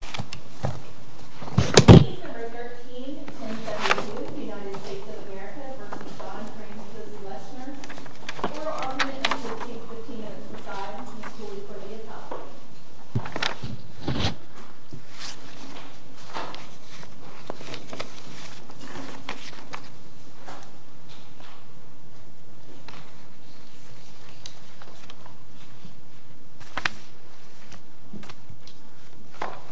God, our northern light, time and place, earth and heaven open unto thee.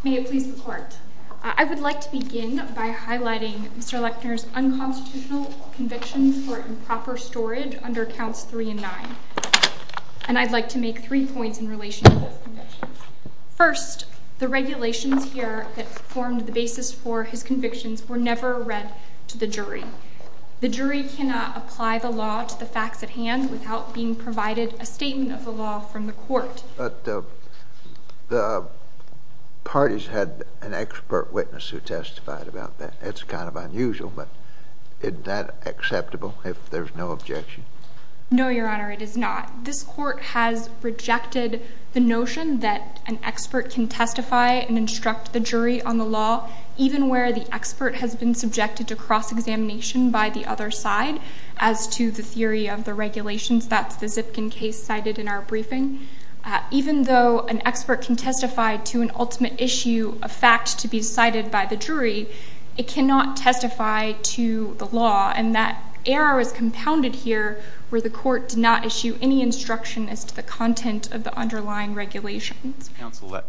May it please the Court. I would like to begin by highlighting Mr. Lechner's unconstitutional convictions for improper storage under Counts 3 and 9. And I'd like to make three points in relation to those convictions. First, the regulations here that formed the basis for his convictions were never read to the jury. The jury cannot apply the law to the facts at hand without being provided a statement of the law from the court. But the parties had an expert witness who testified about that. It's kind of unusual, but isn't that acceptable if there's no objection? No, Your Honor, it is not. This court has rejected the notion that an expert can testify and instruct the jury on the law, even where the expert has been subjected to cross-examination by the other side as to the theory of the regulations. That's the Zipkin case cited in our briefing. Even though an expert can testify to an ultimate issue, a fact to be cited by the jury, it cannot testify to the law, and that error is compounded here where the court did not issue any instruction as to the content of the underlying regulations. Counsel, I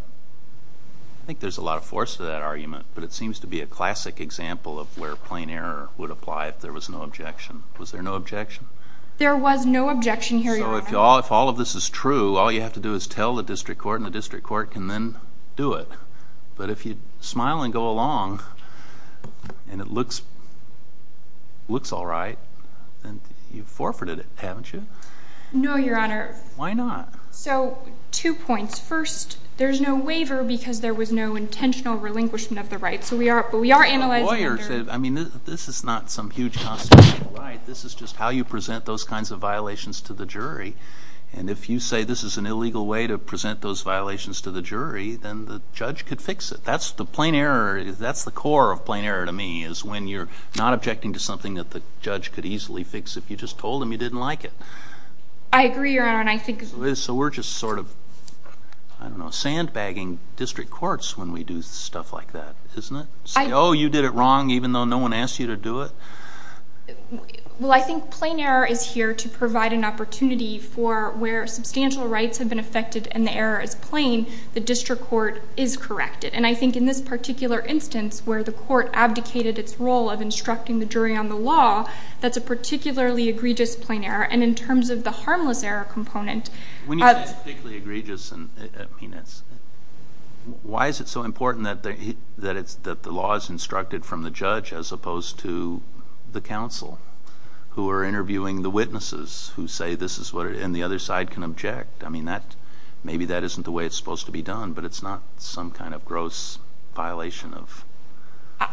think there's a lot of force to that argument, but it seems to be a classic example of where plain error would apply if there was no objection. Was there no objection? There was no objection, Your Honor. So if all of this is true, all you have to do is tell the district court, and the district court can then do it. But if you smile and go along, and it looks all right, then you've forfeited it, haven't you? No, Your Honor. Why not? So, two points. First, there's no waiver because there was no intentional relinquishment of the right. But we are analyzing under— to the jury, and if you say this is an illegal way to present those violations to the jury, then the judge could fix it. That's the plain error. That's the core of plain error to me is when you're not objecting to something that the judge could easily fix. If you just told him you didn't like it. I agree, Your Honor, and I think— So we're just sort of, I don't know, sandbagging district courts when we do stuff like that, isn't it? Say, oh, you did it wrong even though no one asked you to do it. Well, I think plain error is here to provide an opportunity for where substantial rights have been affected and the error is plain, the district court is corrected. And I think in this particular instance where the court abdicated its role of instructing the jury on the law, that's a particularly egregious plain error. And in terms of the harmless error component— When you say it's particularly egregious, I mean, it's— that the law is instructed from the judge as opposed to the counsel who are interviewing the witnesses who say this is what—and the other side can object. I mean, maybe that isn't the way it's supposed to be done, but it's not some kind of gross violation of a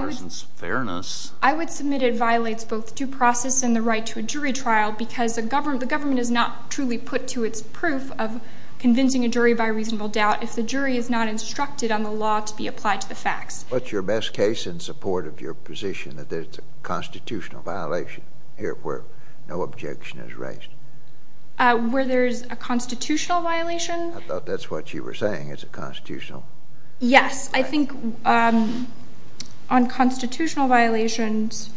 person's fairness. I would submit it violates both due process and the right to a jury trial because the government is not truly put to its proof of convincing a jury by reasonable doubt. If the jury is not instructed on the law to be applied to the facts— What's your best case in support of your position that there's a constitutional violation here where no objection is raised? Where there's a constitutional violation? I thought that's what you were saying, it's a constitutional— Yes, I think on constitutional violations,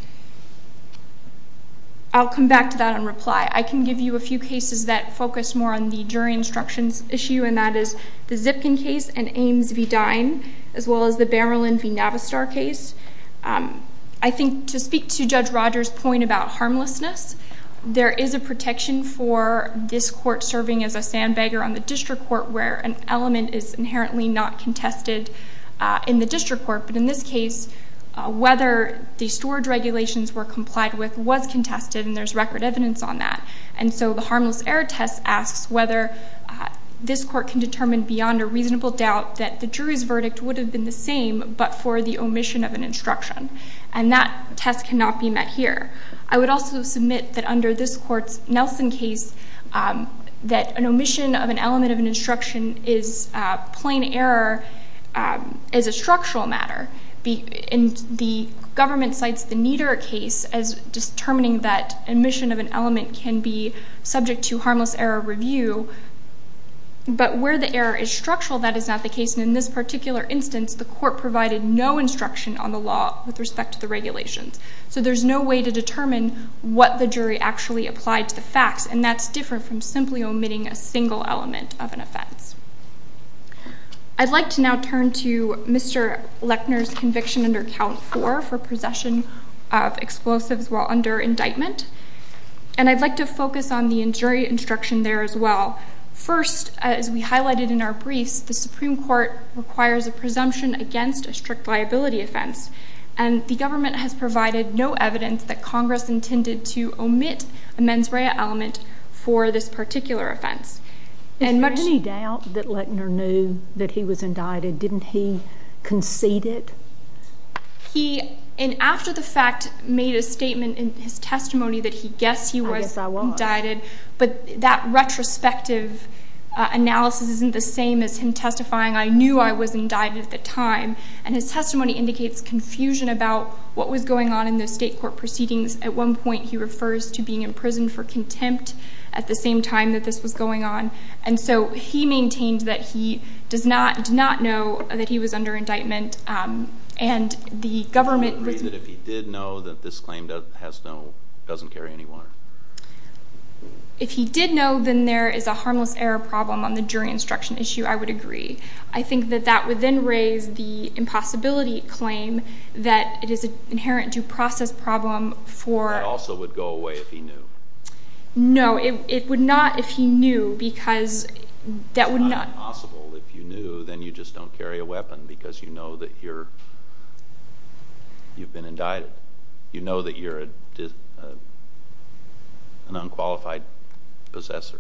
I'll come back to that in reply. I can give you a few cases that focus more on the jury instructions issue and that is the Zipkin case and Ames v. Dine as well as the Bamerlin v. Navistar case. I think to speak to Judge Rogers' point about harmlessness, there is a protection for this court serving as a sandbagger on the district court where an element is inherently not contested in the district court. But in this case, whether the storage regulations were complied with was contested and there's record evidence on that. And so the harmless error test asks whether this court can determine beyond a reasonable doubt that the jury's verdict would have been the same but for the omission of an instruction. And that test cannot be met here. I would also submit that under this court's Nelson case, that an omission of an element of an instruction is plain error as a structural matter. The government cites the Nieder case as determining that omission of an element can be subject to harmless error review. But where the error is structural, that is not the case. And in this particular instance, the court provided no instruction on the law with respect to the regulations. So there's no way to determine what the jury actually applied to the facts, and that's different from simply omitting a single element of an offense. I'd like to now turn to Mr. Lechner's conviction under Count 4 for possession of explosives while under indictment. And I'd like to focus on the jury instruction there as well. First, as we highlighted in our briefs, the Supreme Court requires a presumption against a strict liability offense. And the government has provided no evidence that Congress intended to omit a mens rea element for this particular offense. Is there any doubt that Lechner knew that he was indicted? Didn't he concede it? He, in after the fact, made a statement in his testimony that he guessed he was indicted. But that retrospective analysis isn't the same as him testifying, I knew I was indicted at the time. And his testimony indicates confusion about what was going on in the state court proceedings. At one point, he refers to being in prison for contempt at the same time that this was going on. And so he maintained that he did not know that he was under indictment. And the government was Would you agree that if he did know that this claim doesn't carry any water? If he did know, then there is a harmless error problem on the jury instruction issue, I would agree. I think that that would then raise the impossibility claim that it is an inherent due process problem for That also would go away if he knew. No, it would not if he knew because that would not It's not impossible if you knew, then you just don't carry a weapon because you know that you're You've been indicted. You know that you're an unqualified possessor.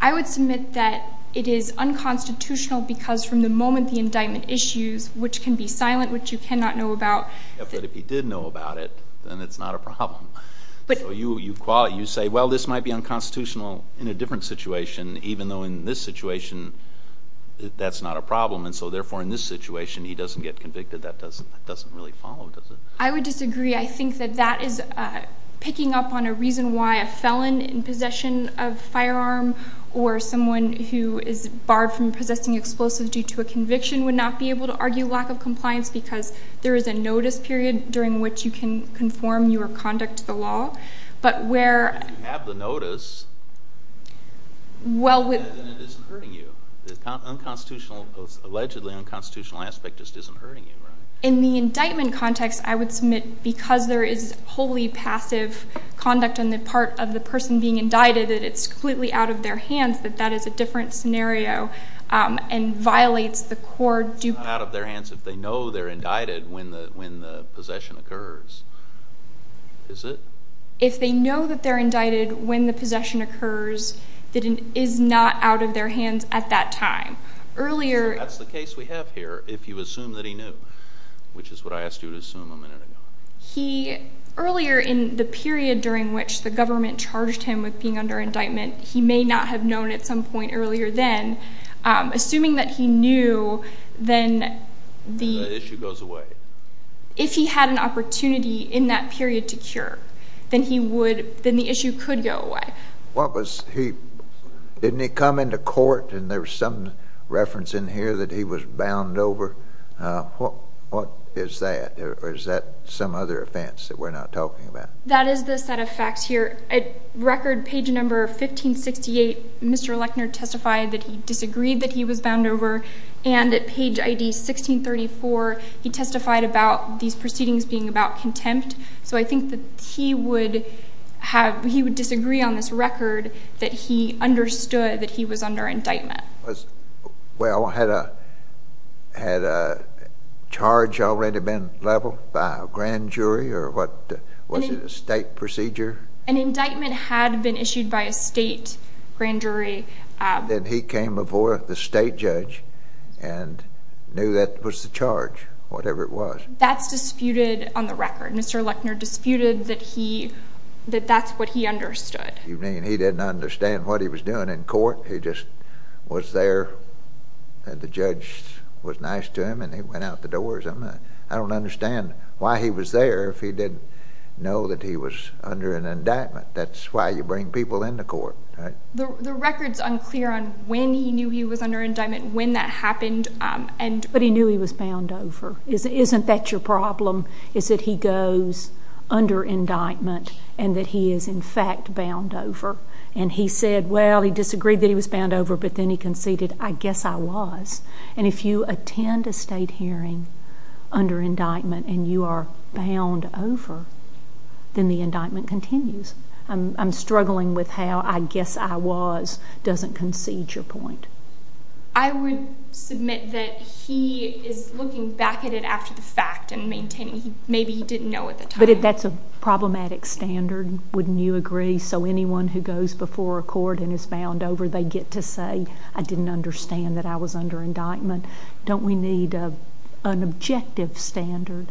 I would submit that it is unconstitutional because from the moment the indictment issues, which can be silent, which you cannot know about But if he did know about it, then it's not a problem. You say, well, this might be unconstitutional in a different situation, even though in this situation, that's not a problem. And so, therefore, in this situation, he doesn't get convicted. That doesn't really follow, does it? I would disagree. I think that that is picking up on a reason why a felon in possession of a firearm or someone who is barred from possessing explosives due to a conviction would not be able to argue lack of compliance because there is a notice period during which you can conform your conduct to the law. But where If you have the notice, then it isn't hurting you. The allegedly unconstitutional aspect just isn't hurting you, right? In the indictment context, I would submit because there is wholly passive conduct on the part of the person being indicted that it's completely out of their hands that that is a different scenario and violates the core It's not out of their hands if they know they're indicted when the possession occurs. Is it? If they know that they're indicted when the possession occurs, that it is not out of their hands at that time. So that's the case we have here, if you assume that he knew, which is what I asked you to assume a minute ago. Earlier in the period during which the government charged him with being under indictment, he may not have known at some point earlier then. Assuming that he knew, then the issue goes away. If he had an opportunity in that period to cure, then the issue could go away. Didn't he come into court and there was some reference in here that he was bound over? What is that or is that some other offense that we're not talking about? That is the set of facts here. At record page number 1568, Mr. Lechner testified that he disagreed that he was bound over. And at page ID 1634, he testified about these proceedings being about contempt. So I think that he would disagree on this record that he understood that he was under indictment. Well, had a charge already been leveled by a grand jury or was it a state procedure? An indictment had been issued by a state grand jury. Then he came before the state judge and knew that was the charge, whatever it was. That's disputed on the record. Mr. Lechner disputed that that's what he understood. You mean he didn't understand what he was doing in court? He just was there and the judge was nice to him and he went out the doors? I don't understand why he was there if he didn't know that he was under an indictment. That's why you bring people into court, right? The record's unclear on when he knew he was under indictment, when that happened. But he knew he was bound over. Isn't that your problem is that he goes under indictment and that he is, in fact, bound over? And he said, well, he disagreed that he was bound over, but then he conceded, I guess I was. And if you attend a state hearing under indictment and you are bound over, then the indictment continues. I'm struggling with how I guess I was doesn't concede your point. I would submit that he is looking back at it after the fact and maintaining maybe he didn't know at the time. But that's a problematic standard, wouldn't you agree? So anyone who goes before a court and is bound over, they get to say, I didn't understand that I was under indictment. Don't we need an objective standard?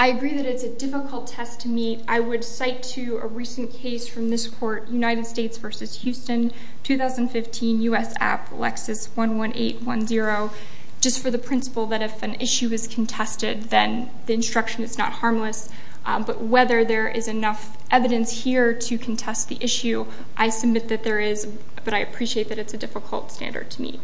I agree that it's a difficult test to meet. I would cite to a recent case from this court, United States v. Houston, 2015, U.S. App, Lexis 11810, just for the principle that if an issue is contested, then the instruction is not harmless. But whether there is enough evidence here to contest the issue, I submit that there is. But I appreciate that it's a difficult standard to meet.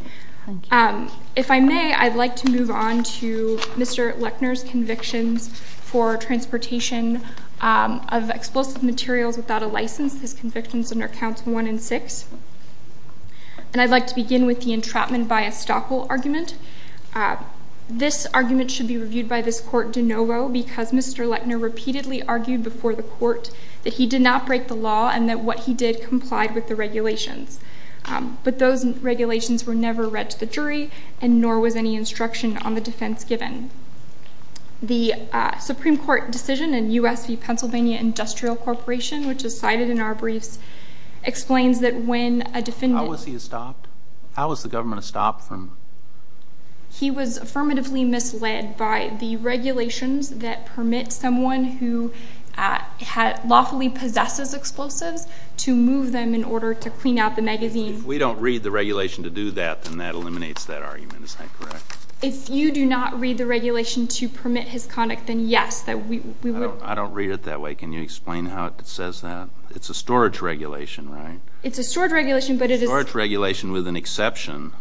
If I may, I'd like to move on to Mr. Lechner's convictions for transportation of explosive materials without a license. His convictions under counts one and six. And I'd like to begin with the entrapment by estoppel argument. This argument should be reviewed by this court de novo, because Mr. Lechner repeatedly argued before the court that he did not break the law and that what he did complied with the regulations. But those regulations were never read to the jury, and nor was any instruction on the defense given. The Supreme Court decision in U.S. v. Pennsylvania Industrial Corporation, which is cited in our briefs, How was he estopped? How was the government estopped from? He was affirmatively misled by the regulations that permit someone who lawfully possesses explosives to move them in order to clean out the magazine. If we don't read the regulation to do that, then that eliminates that argument. Is that correct? If you do not read the regulation to permit his conduct, then yes. I don't read it that way. Can you explain how it says that? It's a storage regulation, right? It's a storage regulation, but it is... Storage regulation with an exception,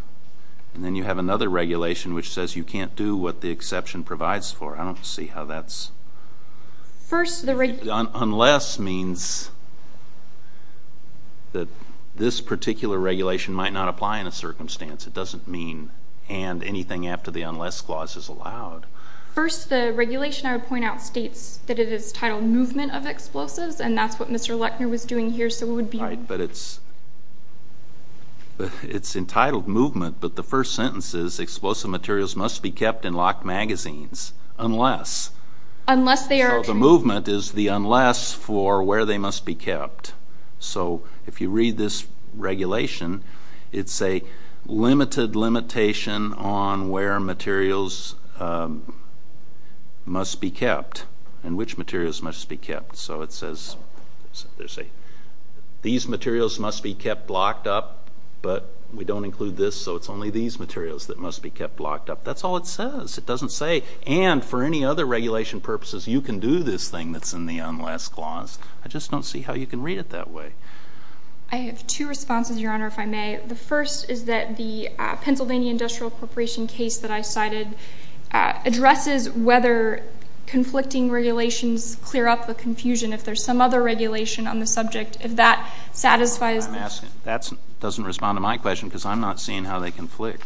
and then you have another regulation which says you can't do what the exception provides for. I don't see how that's... First, the... Unless means that this particular regulation might not apply in a circumstance. It doesn't mean and anything after the unless clause is allowed. First, the regulation I would point out states that it is titled movement of explosives, and that's what Mr. Lechner was doing here, so it would be... Right, but it's entitled movement, but the first sentence is explosive materials must be kept in locked magazines unless... Unless they are... So the movement is the unless for where they must be kept. So if you read this regulation, it's a limited limitation on where materials must be kept and which materials must be kept. So it says these materials must be kept locked up, but we don't include this, so it's only these materials that must be kept locked up. That's all it says. It doesn't say, and for any other regulation purposes, you can do this thing that's in the unless clause. I just don't see how you can read it that way. I have two responses, Your Honor, if I may. The first is that the Pennsylvania Industrial Corporation case that I cited addresses whether conflicting regulations clear up the confusion. If there's some other regulation on the subject, if that satisfies... I'm asking. That doesn't respond to my question because I'm not seeing how they conflict.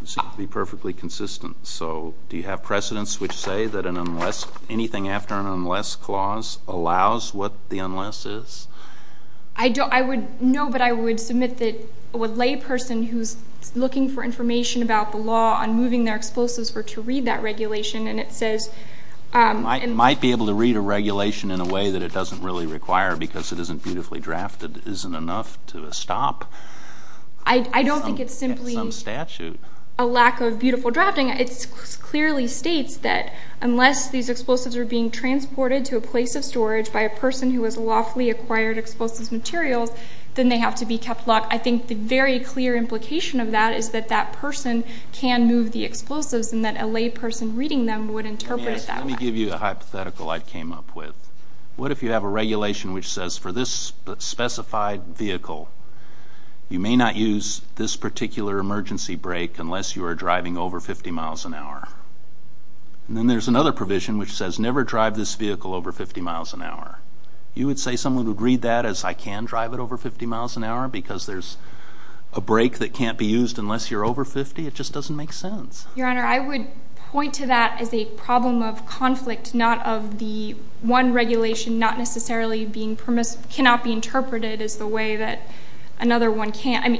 It seems to be perfectly consistent. So do you have precedents which say that anything after an unless clause allows what the unless is? No, but I would submit that a layperson who's looking for information about the law on moving their explosives were to read that regulation, and it says... Might be able to read a regulation in a way that it doesn't really require because it isn't beautifully drafted isn't enough to stop some statute. I don't think it's simply a lack of beautiful drafting. It clearly states that unless these explosives are being transported to a place of storage by a person who has lawfully acquired explosives materials, then they have to be kept locked. I think the very clear implication of that is that that person can move the explosives and that a layperson reading them would interpret it that way. Let me give you a hypothetical I came up with. What if you have a regulation which says for this specified vehicle, you may not use this particular emergency brake unless you are driving over 50 miles an hour? Then there's another provision which says never drive this vehicle over 50 miles an hour. You would say someone would read that as I can drive it over 50 miles an hour because there's a brake that can't be used unless you're over 50? It just doesn't make sense. Your Honor, I would point to that as a problem of conflict, not of the one regulation not necessarily being permitted, cannot be interpreted as the way that another one can. I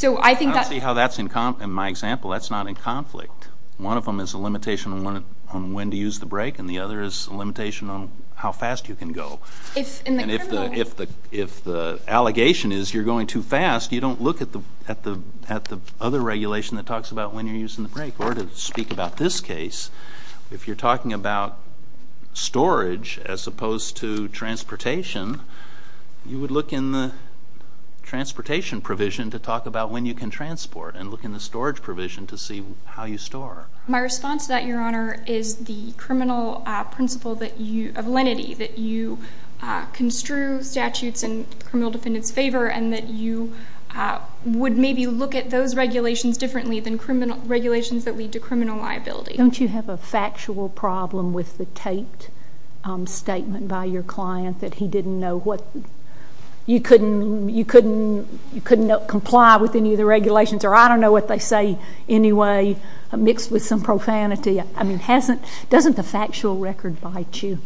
don't see how that's in my example. That's not in conflict. One of them is a limitation on when to use the brake, and the other is a limitation on how fast you can go. If the allegation is you're going too fast, you don't look at the other regulation that talks about when you're using the brake. Or to speak about this case, if you're talking about storage as opposed to transportation, you would look in the transportation provision to talk about when you can transport and look in the storage provision to see how you store. My response to that, Your Honor, is the criminal principle of lenity that you construe statutes in criminal defendants' favor and that you would maybe look at those regulations differently than regulations that lead to criminal liability. Don't you have a factual problem with the taped statement by your client that he didn't know what you couldn't comply with any of the regulations, or I don't know what they say anyway, mixed with some profanity? I mean, doesn't the factual record bite you?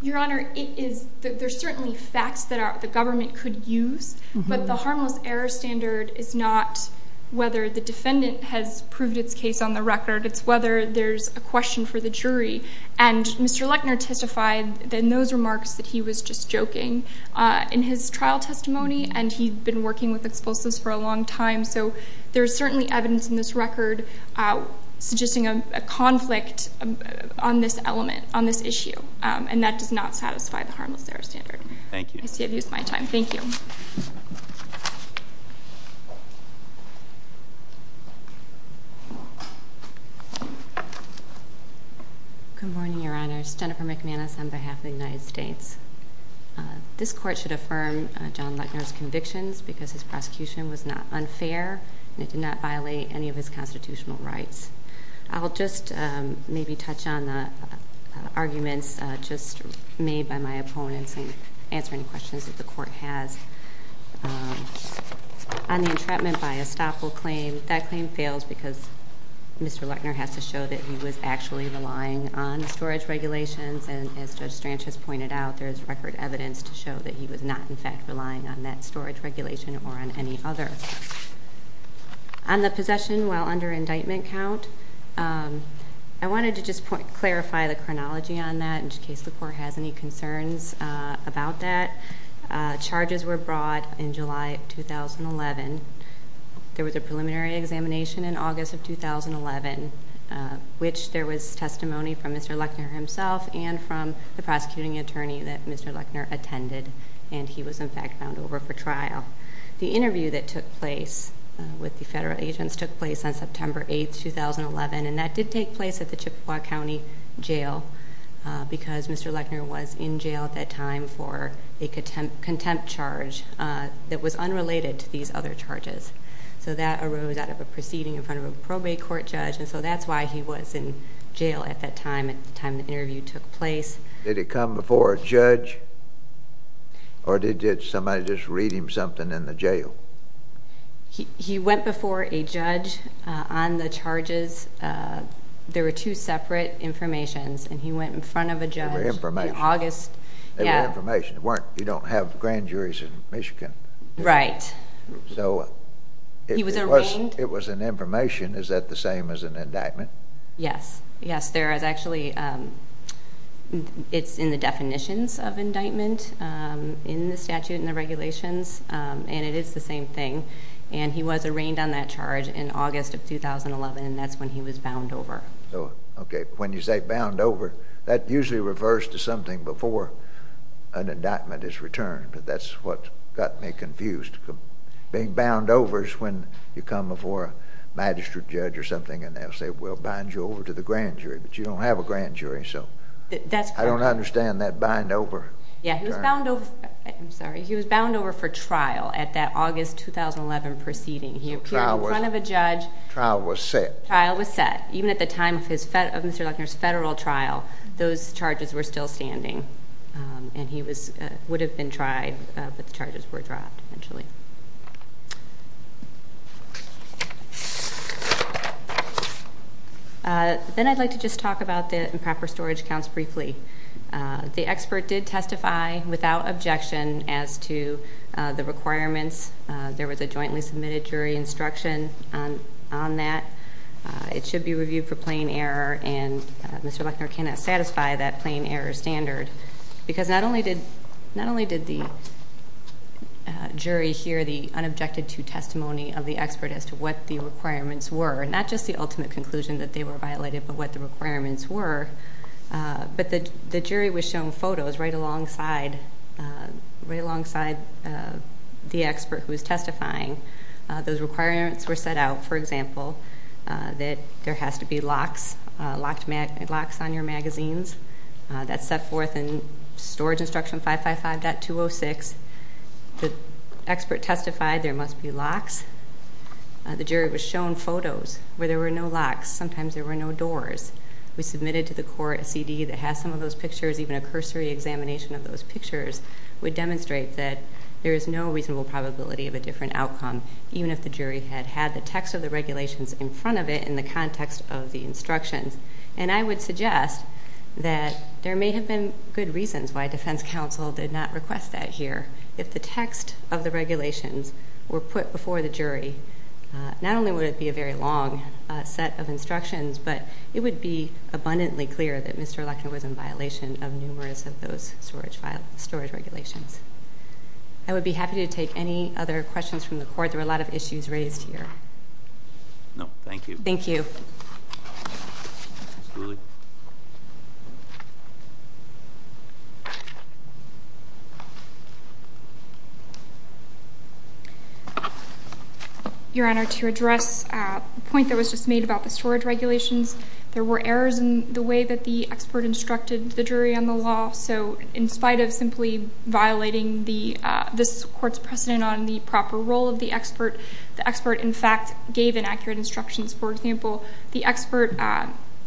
Your Honor, there's certainly facts that the government could use, but the harmless error standard is not whether the defendant has proved its case on the record. It's whether there's a question for the jury. And Mr. Lechner testified in those remarks that he was just joking in his trial testimony, and he'd been working with expulsives for a long time, so there's certainly evidence in this record suggesting a conflict on this element, on this issue, and that does not satisfy the harmless error standard. Thank you. I see I've used my time. Thank you. Good morning, Your Honors. Jennifer McManus on behalf of the United States. This court should affirm John Lechner's convictions because his prosecution was not unfair and it did not violate any of his constitutional rights. I'll just maybe touch on the arguments just made by my opponents in answering questions that the court has. On the entrapment by estoppel claim, that claim fails because Mr. Lechner has to show that he was actually relying on storage regulations, and as Judge Stranch has pointed out, there is record evidence to show that he was not, in fact, relying on that storage regulation or on any other. On the possession while under indictment count, I wanted to just clarify the chronology on that in case the court has any concerns about that. Charges were brought in July of 2011. There was a preliminary examination in August of 2011, which there was testimony from Mr. Lechner himself and from the prosecuting attorney that Mr. Lechner attended, and he was, in fact, found over for trial. The interview that took place with the federal agents took place on September 8, 2011, and that did take place at the Chippewa County Jail because Mr. Lechner was in jail at that time for a contempt charge that was unrelated to these other charges. So that arose out of a proceeding in front of a probate court judge, and so that's why he was in jail at that time, at the time the interview took place. Did it come before a judge, or did somebody just read him something in the jail? He went before a judge on the charges. There were two separate informations, and he went in front of a judge. There were information. In August, yeah. There were information. You don't have grand juries in Michigan. Right. So it was an information. Is that the same as an indictment? Yes. Yes, there is. Actually, it's in the definitions of indictment in the statute and the regulations, and it is the same thing, and he was arraigned on that charge in August of 2011, and that's when he was bound over. Okay. When you say bound over, that usually refers to something before an indictment is returned, but that's what got me confused. Being bound over is when you come before a magistrate judge or something, and they'll say, well, bind you over to the grand jury, but you don't have a grand jury, so I don't understand that bind over term. Yeah, he was bound over for trial at that August 2011 proceeding. He was in front of a judge. Trial was set. Trial was set. Even at the time of Mr. Luckner's federal trial, those charges were still standing, and he would have been tried, but the charges were dropped eventually. Then I'd like to just talk about the improper storage counts briefly. The expert did testify without objection as to the requirements. There was a jointly submitted jury instruction on that. It should be reviewed for plain error, and Mr. Luckner cannot satisfy that plain error standard because not only did the jury hear the unobjected to testimony of the expert as to what the requirements were, and not just the ultimate conclusion that they were violated, but what the requirements were, but the jury was shown photos right alongside the expert who was testifying. Those requirements were set out, for example, that there has to be locks on your magazines. That's set forth in Storage Instruction 555.206. The expert testified there must be locks. The jury was shown photos where there were no locks. Sometimes there were no doors. We submitted to the court a CD that has some of those pictures, even a cursory examination of those pictures, would demonstrate that there is no reasonable probability of a different outcome, even if the jury had had the text of the regulations in front of it in the context of the instructions. And I would suggest that there may have been good reasons why defense counsel did not request that here. If the text of the regulations were put before the jury, not only would it be a very long set of instructions, but it would be abundantly clear that Mr. Lechner was in violation of numerous of those storage regulations. I would be happy to take any other questions from the court. There were a lot of issues raised here. No, thank you. Thank you. Ms. Dooley? Your Honor, to address the point that was just made about the storage regulations, there were errors in the way that the expert instructed the jury on the law. So in spite of simply violating this court's precedent on the proper role of the expert, the expert, in fact, gave inaccurate instructions. For example, the expert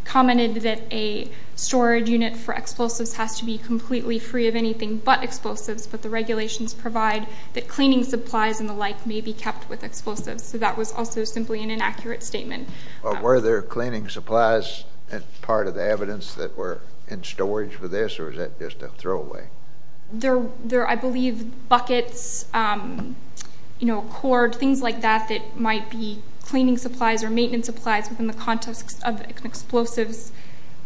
commented that a storage unit for explosives has to be completely free of anything but explosives, but the regulations provide that cleaning supplies and the like may be kept with explosives. So that was also simply an inaccurate statement. Were there cleaning supplies as part of the evidence that were in storage for this, or was that just a throwaway? I believe buckets, cord, things like that that might be cleaning supplies or maintenance supplies within the context of an explosives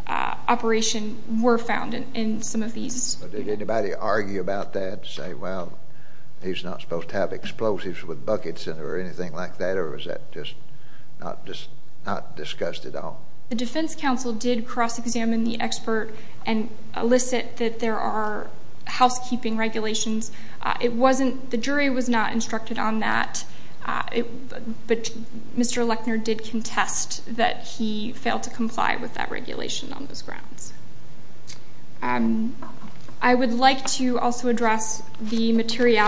operation were found in some of these. Did anybody argue about that, say, well, he's not supposed to have explosives with buckets in it or anything like that, or was that just not discussed at all? The defense counsel did cross-examine the expert and elicit that there are housekeeping regulations. The jury was not instructed on that, but Mr. Lechner did contest that he failed to comply with that regulation on those grounds. I would like to also address the material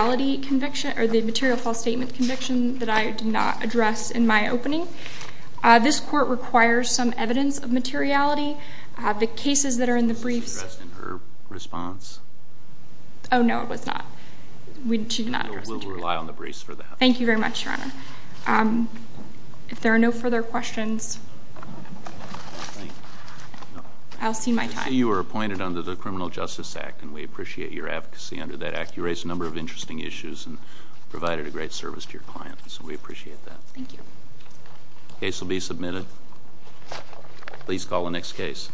false statement conviction that I did not address in my opening. This court requires some evidence of materiality. The cases that are in the briefs- Was addressed in her response? Oh, no, it was not. She did not address it. We'll rely on the briefs for that. Thank you very much, Your Honor. If there are no further questions, I'll see my time. I see you were appointed under the Criminal Justice Act, and we appreciate your advocacy under that act. You raised a number of interesting issues and provided a great service to your clients, so we appreciate that. Thank you. The case will be submitted. Please call the next case.